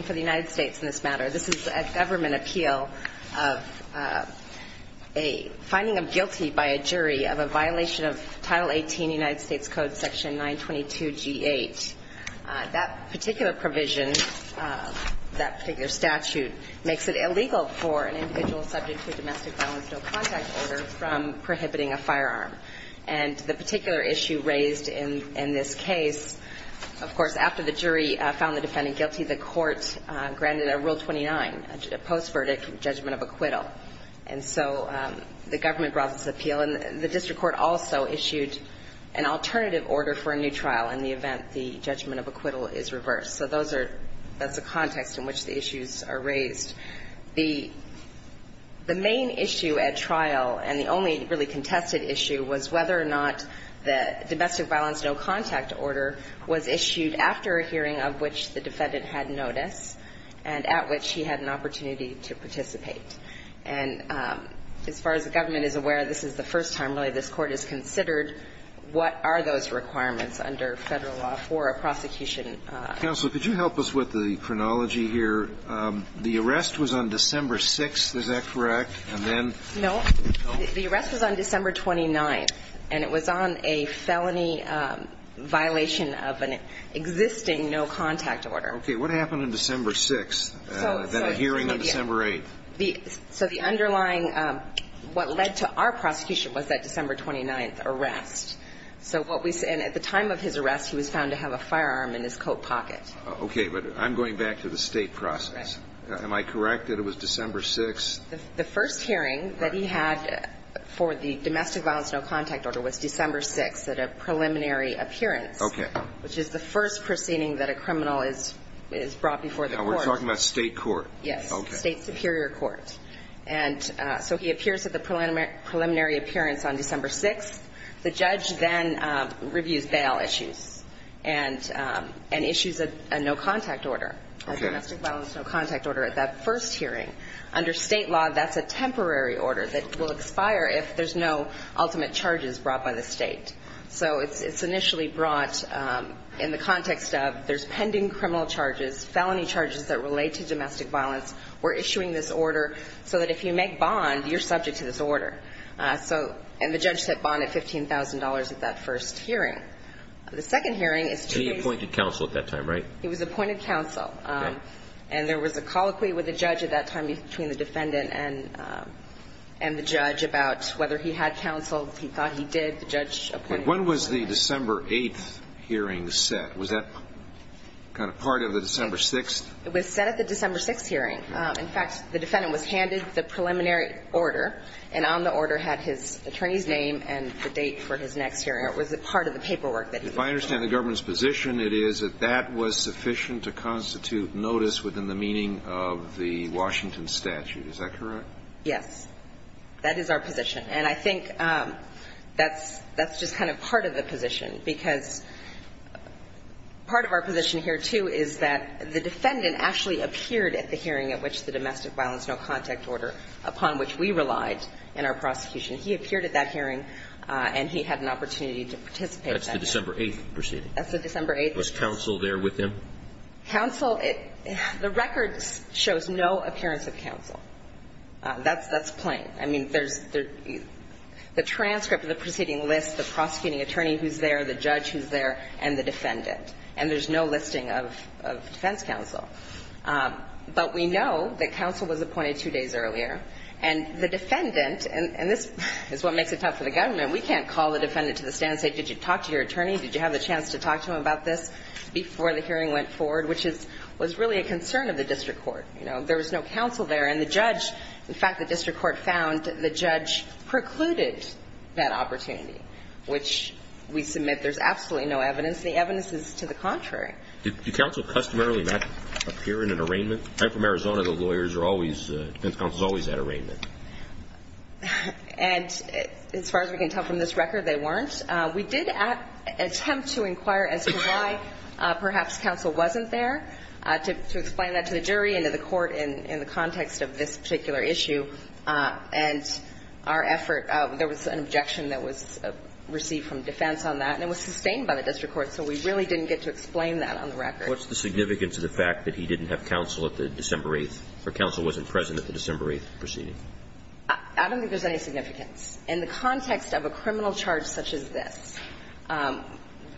for the United States in this matter. This is a government appeal of a finding of guilty by a jury of a violation of Title 18 United States Code Section 922G8. That particular provision, that particular statute, makes it illegal for an individual subject to a domestic violence no contact order from prohibiting a firearm. And the particular issue raised in this case, of course, after the jury found the defendant guilty, the court granted a Rule 29, a post-verdict judgment of acquittal. And so the government brought this appeal. And the district court also issued an alternative order for a new trial in the event the judgment of acquittal is reversed. So those are, that's the context in which the issues are raised. The main issue at trial, and the only really contested issue, was whether or not the domestic violence no contact order was issued after a hearing of which the defendant had notice and at which he had an opportunity to participate. And as far as the government is aware, this is the first time, really, this Court has considered what are those requirements under Federal law for a prosecution. Counsel, could you help us with the chronology here? The arrest was on December 6th, is that correct? And then no. The arrest was on December 29th. And it was on a felony violation of an existing no contact order. Okay. What happened on December 6th, then a hearing on December 8th? So the underlying, what led to our prosecution was that December 29th arrest. So what we, and at the time of his arrest, he was found to have a firearm in his coat pocket. Okay. But I'm going back to the State process. Am I correct that it was December 6th? The first hearing that he had for the domestic violence no contact order was December 6th at a preliminary appearance. Okay. Which is the first proceeding that a criminal is brought before the Court. Now we're talking about State Court. Yes. State Superior Court. And so he appears at the preliminary appearance on December 6th. The judge then reviews bail issues and issues a no contact order, a State law that's a temporary order that will expire if there's no ultimate charges brought by the State. So it's initially brought in the context of there's pending criminal charges, felony charges that relate to domestic violence. We're issuing this order so that if you make bond, you're subject to this order. So, and the judge set bond at $15,000 at that first hearing. The second hearing is two days. He appointed counsel at that time, right? He was appointed counsel. Okay. And there was a colloquy with the judge at that time between the defendant and the judge about whether he had counsel, he thought he did, the judge appointed him. When was the December 8th hearing set? Was that kind of part of the December 6th? It was set at the December 6th hearing. In fact, the defendant was handed the preliminary order, and on the order had his attorney's name and the date for his next hearing. It was part of the paperwork that he was given. If I understand the government's position, it is that that was sufficient to constitute notice within the meaning of the Washington statute. Is that correct? Yes. That is our position. And I think that's just kind of part of the position, because part of our position here, too, is that the defendant actually appeared at the hearing at which the domestic violence no-contact order upon which we relied in our prosecution. He appeared at that hearing, and he had an opportunity to participate. That's the December 8th proceeding. That's the December 8th. Was counsel there with him? Counsel, it – the record shows no appearance of counsel. That's – that's plain. I mean, there's – the transcript of the proceeding lists the prosecuting attorney who's there, the judge who's there, and the defendant. And there's no listing of defense counsel. But we know that counsel was appointed two days earlier, and the defendant – and this is what makes it tough for the government. We can't call the defendant to the stand and say, did you talk to your attorney? Did you have the chance to talk to him about this before the hearing went forward, which is – was really a concern of the district court. You know, there was no counsel there. And the judge – in fact, the district court found the judge precluded that opportunity, which we submit there's absolutely no evidence. The evidence is to the contrary. Did counsel customarily not appear in an arraignment? I'm from Arizona. The lawyers are always – defense counsel is always at arraignment. And as far as we can tell from this record, they weren't. We did attempt to inquire as to why perhaps counsel wasn't there, to explain that to the jury and to the court in the context of this particular issue. And our effort – there was an objection that was received from defense on that, and it was sustained by the district court, so we really didn't get to explain that on the record. What's the significance of the fact that he didn't have counsel at the December 8th – or counsel wasn't present at the December 8th proceeding? I don't think there's any significance. In the context of a criminal charge such as this,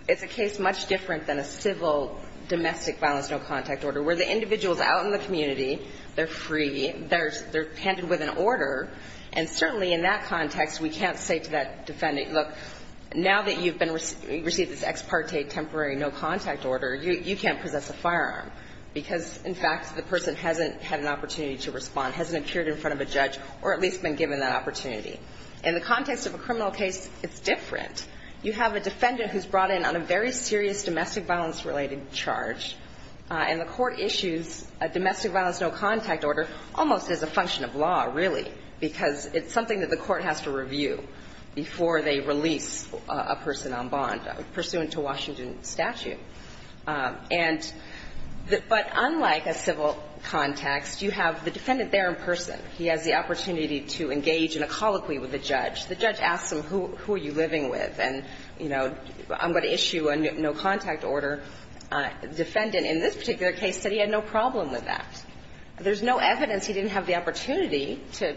it's a case much different than a civil domestic violence no-contact order, where the individual is out in the community, they're free, they're handed with an order, and certainly in that context, we can't say to that defendant, look, now that you've been – received this ex parte temporary no-contact order, you can't possess a firearm, because, in fact, the person hasn't had an opportunity to respond, hasn't appeared in front of a judge, or at least been given that opportunity. In the context of a criminal case, it's different. You have a defendant who's brought in on a very serious domestic violence-related charge, and the court issues a domestic violence no-contact order almost as a function of law, really, because it's something that the court has to review before they release a person on bond, pursuant to Washington statute. And – but unlike a civil context, you have the defendant there in person. He has the opportunity to engage in a colloquy with a judge. The judge asks him, who are you living with? And, you know, I'm going to issue a no-contact order. The defendant in this particular case said he had no problem with that. There's no evidence he didn't have the opportunity to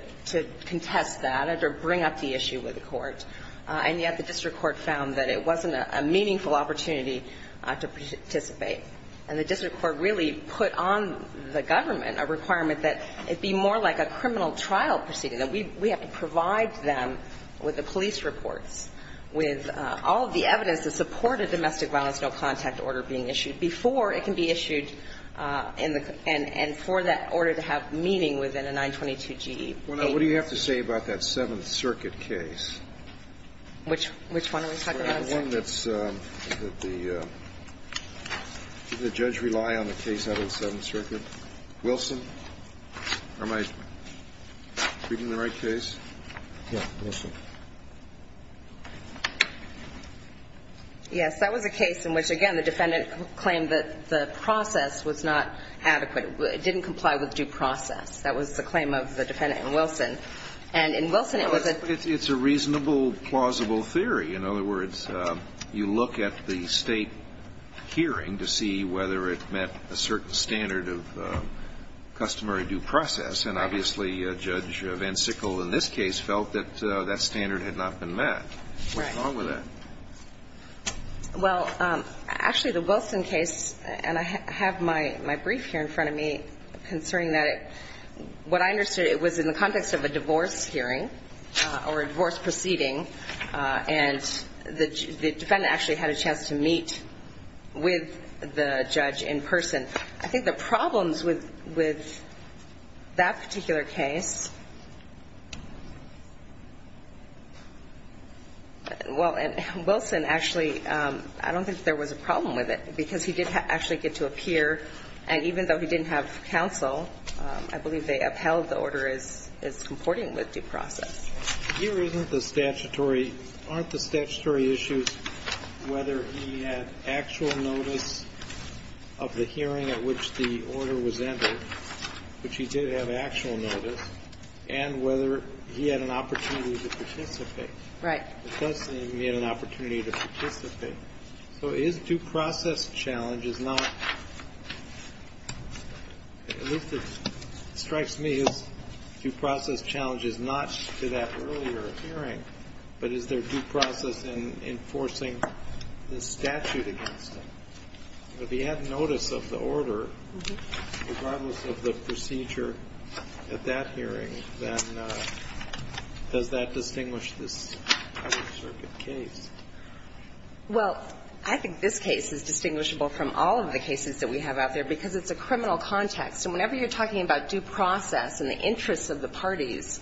contest that or bring up the issue with the court. And yet the district court found that it wasn't a meaningful opportunity to participate. And the district court really put on the government a requirement that it be more like a criminal trial proceeding, that we have to provide them with the police reports, with all of the evidence to support a domestic violence no-contact order being issued before it can be issued in the – and for that order to have meaning within a 922 G.E. But what do you have to say about that Seventh Circuit case? Which – which one are we talking about? The one that's – that the judge rely on the case out of the Seventh Circuit. Wilson? Am I reading the right case? Yes. That was a case in which, again, the defendant claimed that the process was not adequate. It didn't comply with due process. That was the claim of the defendant in Wilson. And in Wilson, it was a – It's a reasonable, plausible theory. In other words, you look at the State hearing to see whether it met a certain standard of customary due process. And obviously, Judge VanSickle in this case felt that that standard had not been met. Right. What's wrong with that? Well, actually, the Wilson case – and I have my brief here in front of me concerning that – what I understood, it was in the context of a divorce hearing or a divorce proceeding. And the defendant actually had a chance to meet with the judge in person. I think the problems with – with that particular case – well, in Wilson, actually, I don't think there was a problem with it because he did actually get to meet with the judge. I believe they upheld the order as comporting with due process. Here isn't the statutory – aren't the statutory issues whether he had actual notice of the hearing at which the order was entered, which he did have actual notice, and whether he had an opportunity to participate? Right. The judge said he had an opportunity to participate. So his due process challenge is not – at least it strikes me as due process challenge is not to that earlier hearing, but is there due process in enforcing the statute against him? If he had notice of the order, regardless of the procedure at that hearing, then does that distinguish this Outer Circuit case? Well, I think this case is distinguishable from all of the cases that we have out there because it's a criminal context. And whenever you're talking about due process and the interests of the parties,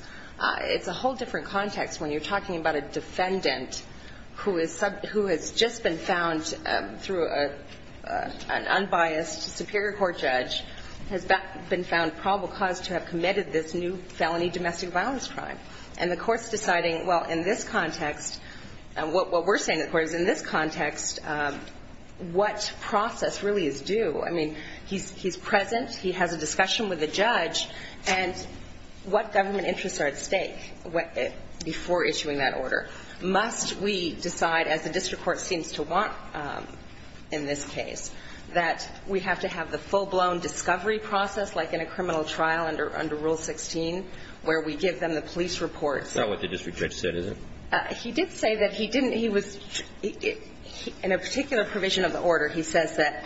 it's a whole different context when you're talking about a defendant who is – who has just been found through an unbiased superior court judge, has been found probable cause to have committed this new felony domestic violence crime. And the court's deciding, well, in this context, what process really is due? I mean, he's present. He has a discussion with the judge. And what government interests are at stake before issuing that order? Must we decide, as the district court seems to want in this case, that we have to have the full-blown discovery process, like in a criminal trial under Rule 16, where we give them the police reports? That's not what the district judge said, is it? He did say that he didn't – he was – in a particular provision of the order, he says that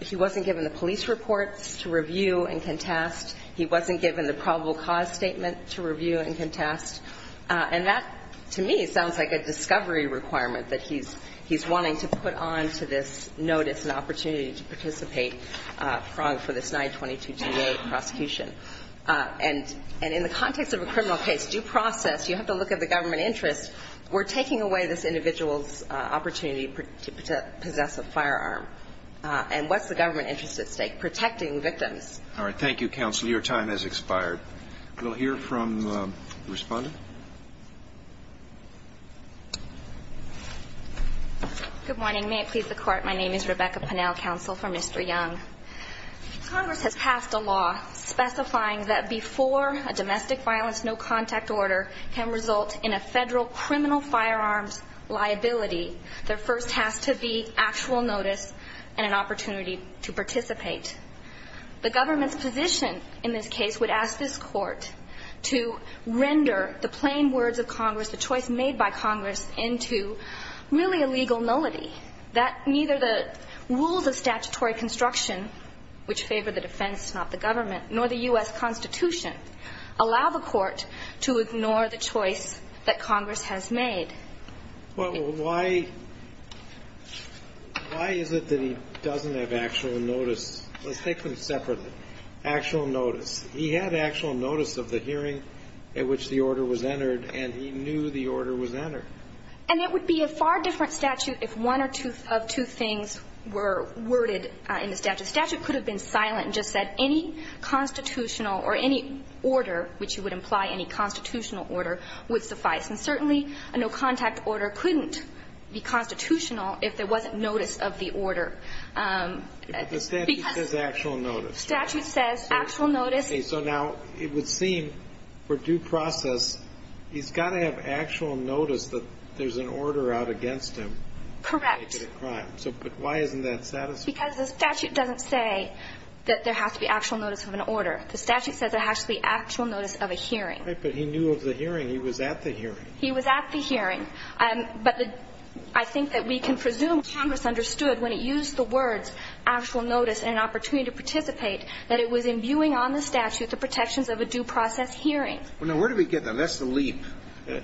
he wasn't given the police reports to review and contest. He wasn't given the probable cause statement to review and contest. And that, to me, sounds like a discovery requirement that he's wanting to put on to this notice and opportunity to participate for this 922 G.A. prosecution. And in the context of a criminal case, due process, you have to look at the government interest. We're taking away this individual's opportunity to possess a firearm. And what's the government interest at stake? Protecting victims. All right. Thank you, counsel. Your time has expired. We'll hear from the respondent. Good morning. May it please the Court, my name is Rebecca Pennell, counsel for Mr. Young. Congress has passed a law specifying that before a domestic violence no-contact order can result in a federal criminal firearms liability, there first has to be actual notice and an opportunity to participate. The government's position in this case would ask this Court to render the plain words of Congress, the choice made by Congress, into really a legal liability, that neither the rules of statutory construction, which favor the defense, not the government, nor the U.S. Constitution, allow the Court to ignore the choice that Congress has made. Well, why is it that he doesn't have actual notice? Let's take them separately. Actual notice. He had actual notice of the hearing at which the hearing was held. And it would be a far different statute if one of two things were worded in the statute. The statute could have been silent and just said any constitutional or any order, which you would imply any constitutional order, would suffice. And certainly a no-contact order couldn't be constitutional if there wasn't notice of the order. But the statute says actual notice. The statute says actual notice. Okay. So now it would seem, for due process, he's got to have actual notice that there's an order out against him to make it a crime. Correct. But why isn't that satisfactory? Because the statute doesn't say that there has to be actual notice of an order. The statute says there has to be actual notice of a hearing. Right. But he knew of the hearing. He was at the hearing. He was at the hearing. But I think that we can presume Congress understood when it used the words actual notice and an opportunity to participate, that it was imbuing on the statute the protections of a due process hearing. Well, now, where do we get that? That's the leap.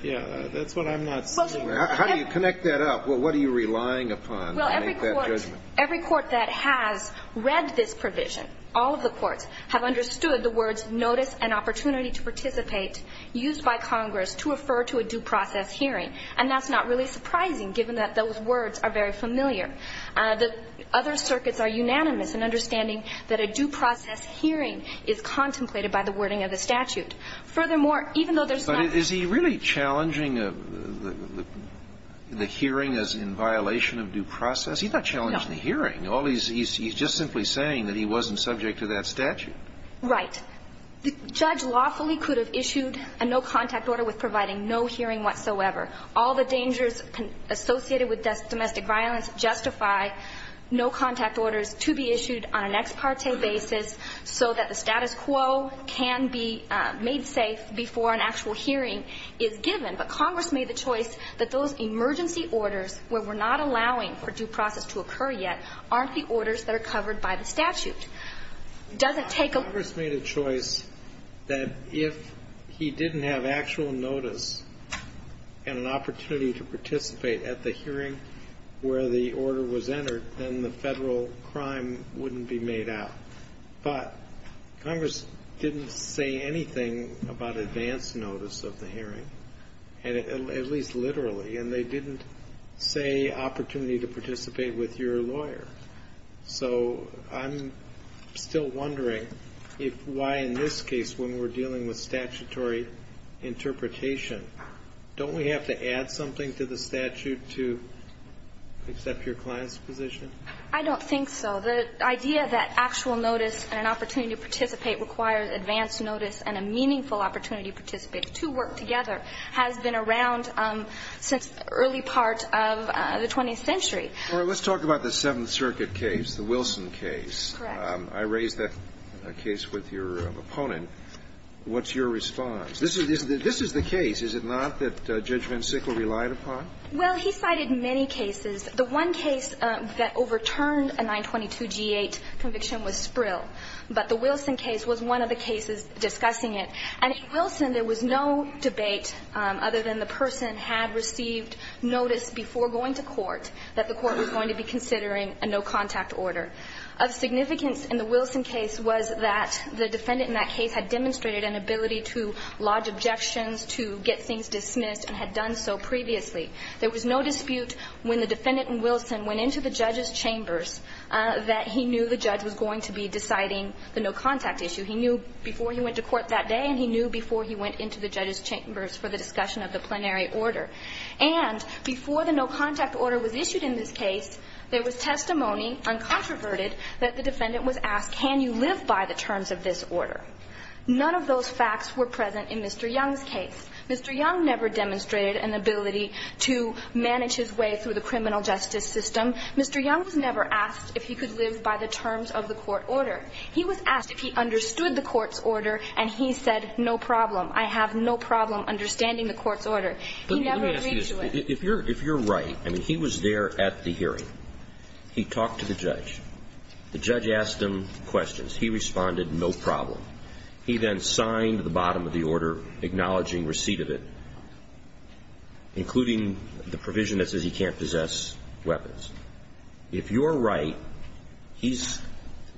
Yeah. That's what I'm not seeing. How do you connect that up? What are you relying upon to make that judgment? Well, every court that has read this provision, all of the courts, have understood the words notice and opportunity to participate used by Congress to refer to a due process hearing. And that's not really surprising, given that those words are very familiar. The other circuits are unanimous in understanding that a due process hearing is contemplated by the wording of the statute. Furthermore, even though there's not But is he really challenging the hearing as in violation of due process? No. He's not challenging the hearing. He's just simply saying that he wasn't subject to that statute. Right. The judge lawfully could have issued a no-contact order with providing no hearing whatsoever. All the dangers associated with domestic violence justify no-contact orders to be issued on an ex parte basis so that the status quo can be made safe before an actual hearing is given. But Congress made the choice that those emergency orders where we're not allowing for due process to occur yet aren't the orders that are covered by the statute. It doesn't take a Congress made a choice that if he didn't have actual notice and an opportunity to participate at the hearing where the order was entered, then the federal crime wouldn't be made out. But Congress didn't say anything about advance notice of the hearing, at least literally, and they didn't say opportunity to participate with your lawyer. So I'm still wondering why in this case when we're dealing with statutory interpretation, don't we have to add something to the statute to accept your client's position? I don't think so. The idea that actual notice and an opportunity to participate requires advance notice and a meaningful opportunity to participate to work together has been around since early part of the 20th century. All right. Let's talk about the Seventh Circuit case, the Wilson case. Correct. I raised that case with your opponent. What's your response? This is the case. Is it not that Judge Van Sickle relied upon? Well, he cited many cases. The one case that overturned a 922-G8 conviction was Sprill. But the Wilson case was one of the cases discussing it. And in Wilson, there was no debate other than the person had received notice before going to court that the court was going to be considering a no-contact order. Of significance in the Wilson case was that the defendant in that case had demonstrated an ability to lodge objections, to get things dismissed, and had done so previously. There was no dispute when the defendant in Wilson went into the judge's chambers that he knew the judge was going to be deciding the no-contact issue. He knew before he went to court that day, and he knew before he went into the judge's chambers for the discussion of the plenary order. And before the no-contact order was issued in this case, there was testimony, uncontroverted, that the defendant was asked, can you live by the terms of this order? None of those facts were present in Mr. Young's case. Mr. Young never demonstrated an ability to manage his way through the criminal justice system. Mr. Young was never asked if he could live by the terms of the court order. He was asked if he understood the court's order, and he said, no problem. I have no problem understanding the court's order. He never agreed to it. Let me ask you this. If you're right, I mean, he was there at the hearing. He talked to the judge. The judge asked him questions. He responded, no problem. He then signed the bottom of the order acknowledging receipt of it, including the provision that says he can't possess weapons. If you're right, he's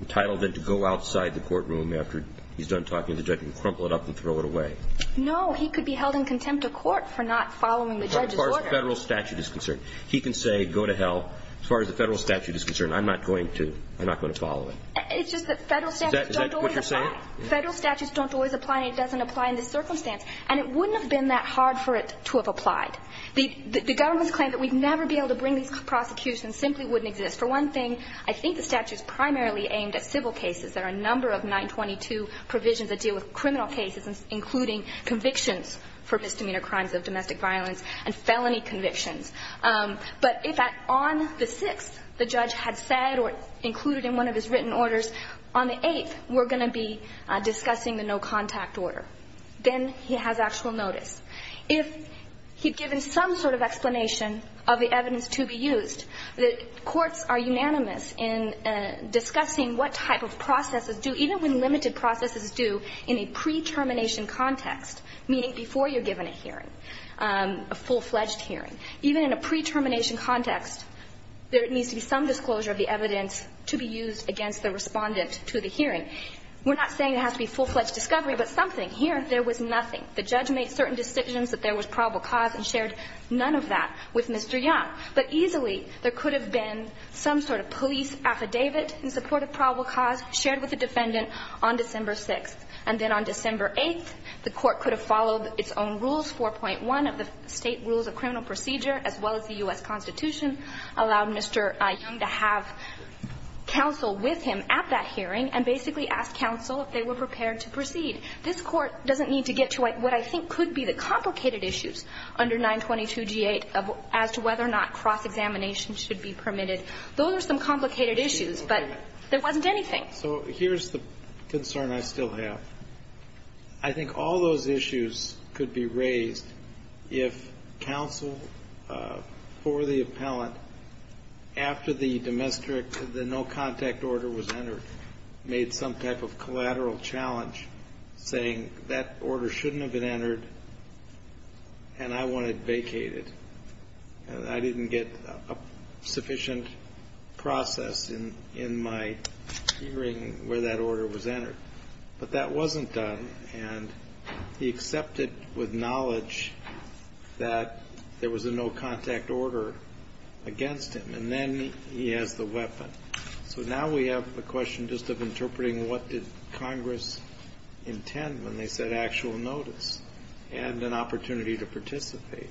entitled then to go outside the courtroom after he's done talking to the judge and crumple it up and throw it away. No. He could be held in contempt of court for not following the judge's order. As far as the Federal statute is concerned. He can say, go to hell. As far as the Federal statute is concerned, I'm not going to. I'm not going to follow it. It's just that Federal statutes don't always apply. Federal statutes don't always apply and it doesn't apply in this circumstance. And it wouldn't have been that hard for it to have applied. The government's claim that we'd never be able to bring these prosecutions simply wouldn't exist. For one thing, I think the statute's primarily aimed at civil cases. There are a number of 922 provisions that deal with criminal cases, including convictions for misdemeanor crimes of domestic violence and felony convictions. But if on the 6th the judge had said or included in one of his written orders, on the 8th we're going to be discussing the no-contact order, then he has actual notice. If he'd given some sort of explanation of the evidence to be used, the courts are unanimous in discussing what type of processes do, even when limited processes do, in a pre-termination context, meaning before you're given a hearing, a full-fledged hearing. Even in a pre-termination context, there needs to be some disclosure of the evidence in response to the hearing. We're not saying it has to be full-fledged discovery, but something. Here, there was nothing. The judge made certain decisions that there was probable cause and shared none of that with Mr. Young. But easily, there could have been some sort of police affidavit in support of probable cause shared with the defendant on December 6th. And then on December 8th, the court could have followed its own rules, 4.1 of the state rules of criminal procedure, as well as the U.S. Constitution, allowed Mr. Young to have counsel with him at that hearing, and basically asked counsel if they were prepared to proceed. This Court doesn't need to get to what I think could be the complicated issues under 922G8 as to whether or not cross-examination should be permitted. Those are some complicated issues, but there wasn't anything. So here's the concern I still have. I think all those issues could be raised if counsel, for the appellant's part, after the no-contact order was entered, made some type of collateral challenge, saying that order shouldn't have been entered, and I wanted vacated. I didn't get a sufficient process in my hearing where that order was entered. But that wasn't done, and he accepted with knowledge that there was a no-contact order against him. And then he has the weapon. So now we have the question just of interpreting what did Congress intend when they said actual notice and an opportunity to participate.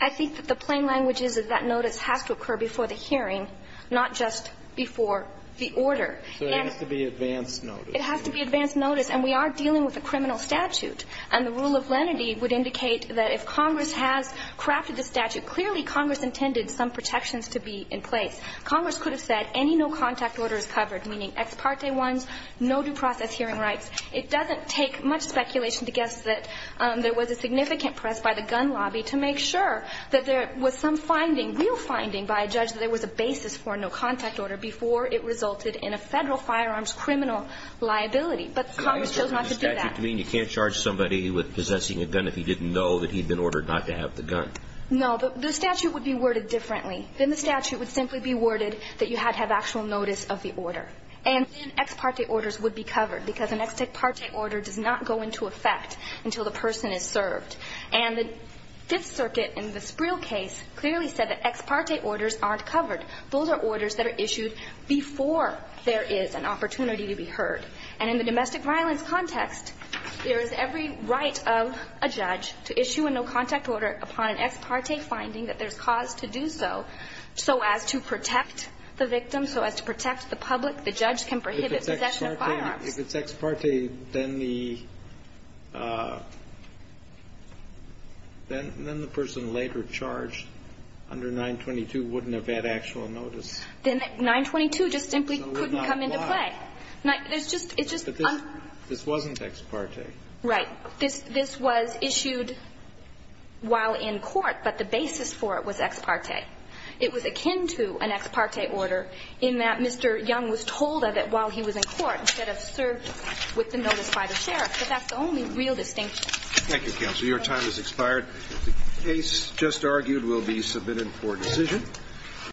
I think that the plain language is that that notice has to occur before the hearing, not just before the order. So it has to be advanced notice. It has to be advanced notice, and we are dealing with a criminal statute. And the rule of lenity would indicate that if Congress has crafted the statute, clearly Congress intended some protections to be in place. Congress could have said any no-contact order is covered, meaning ex parte ones, no due process hearing rights. It doesn't take much speculation to guess that there was a significant press by the gun lobby to make sure that there was some finding, real finding, by a judge that there was a basis for a no-contact order before it But Congress chose not to do that. Does that mean you can't charge somebody with possessing a gun if he didn't know that he'd been ordered not to have the gun? No, the statute would be worded differently. Then the statute would simply be worded that you had to have actual notice of the order. And then ex parte orders would be covered because an ex parte order does not go into effect until the person is served. And the Fifth Circuit in the Spreel case clearly said that ex parte orders aren't covered. Those are orders that are issued before there is an opportunity to be heard. And in the domestic violence context, there is every right of a judge to issue a no-contact order upon an ex parte finding that there's cause to do so, so as to protect the victim, so as to protect the public. The judge can prohibit possession of firearms. If it's ex parte, then the person later charged under 922 wouldn't have had actual notice. Then 922 just simply couldn't come into play. This wasn't ex parte. Right. This was issued while in court, but the basis for it was ex parte. It was akin to an ex parte order in that Mr. Young was told of it while he was in court, instead of served with the notice by the sheriff. But that's the only real distinction. Thank you, Counselor. Your time has expired. The case just argued will be submitted for decision.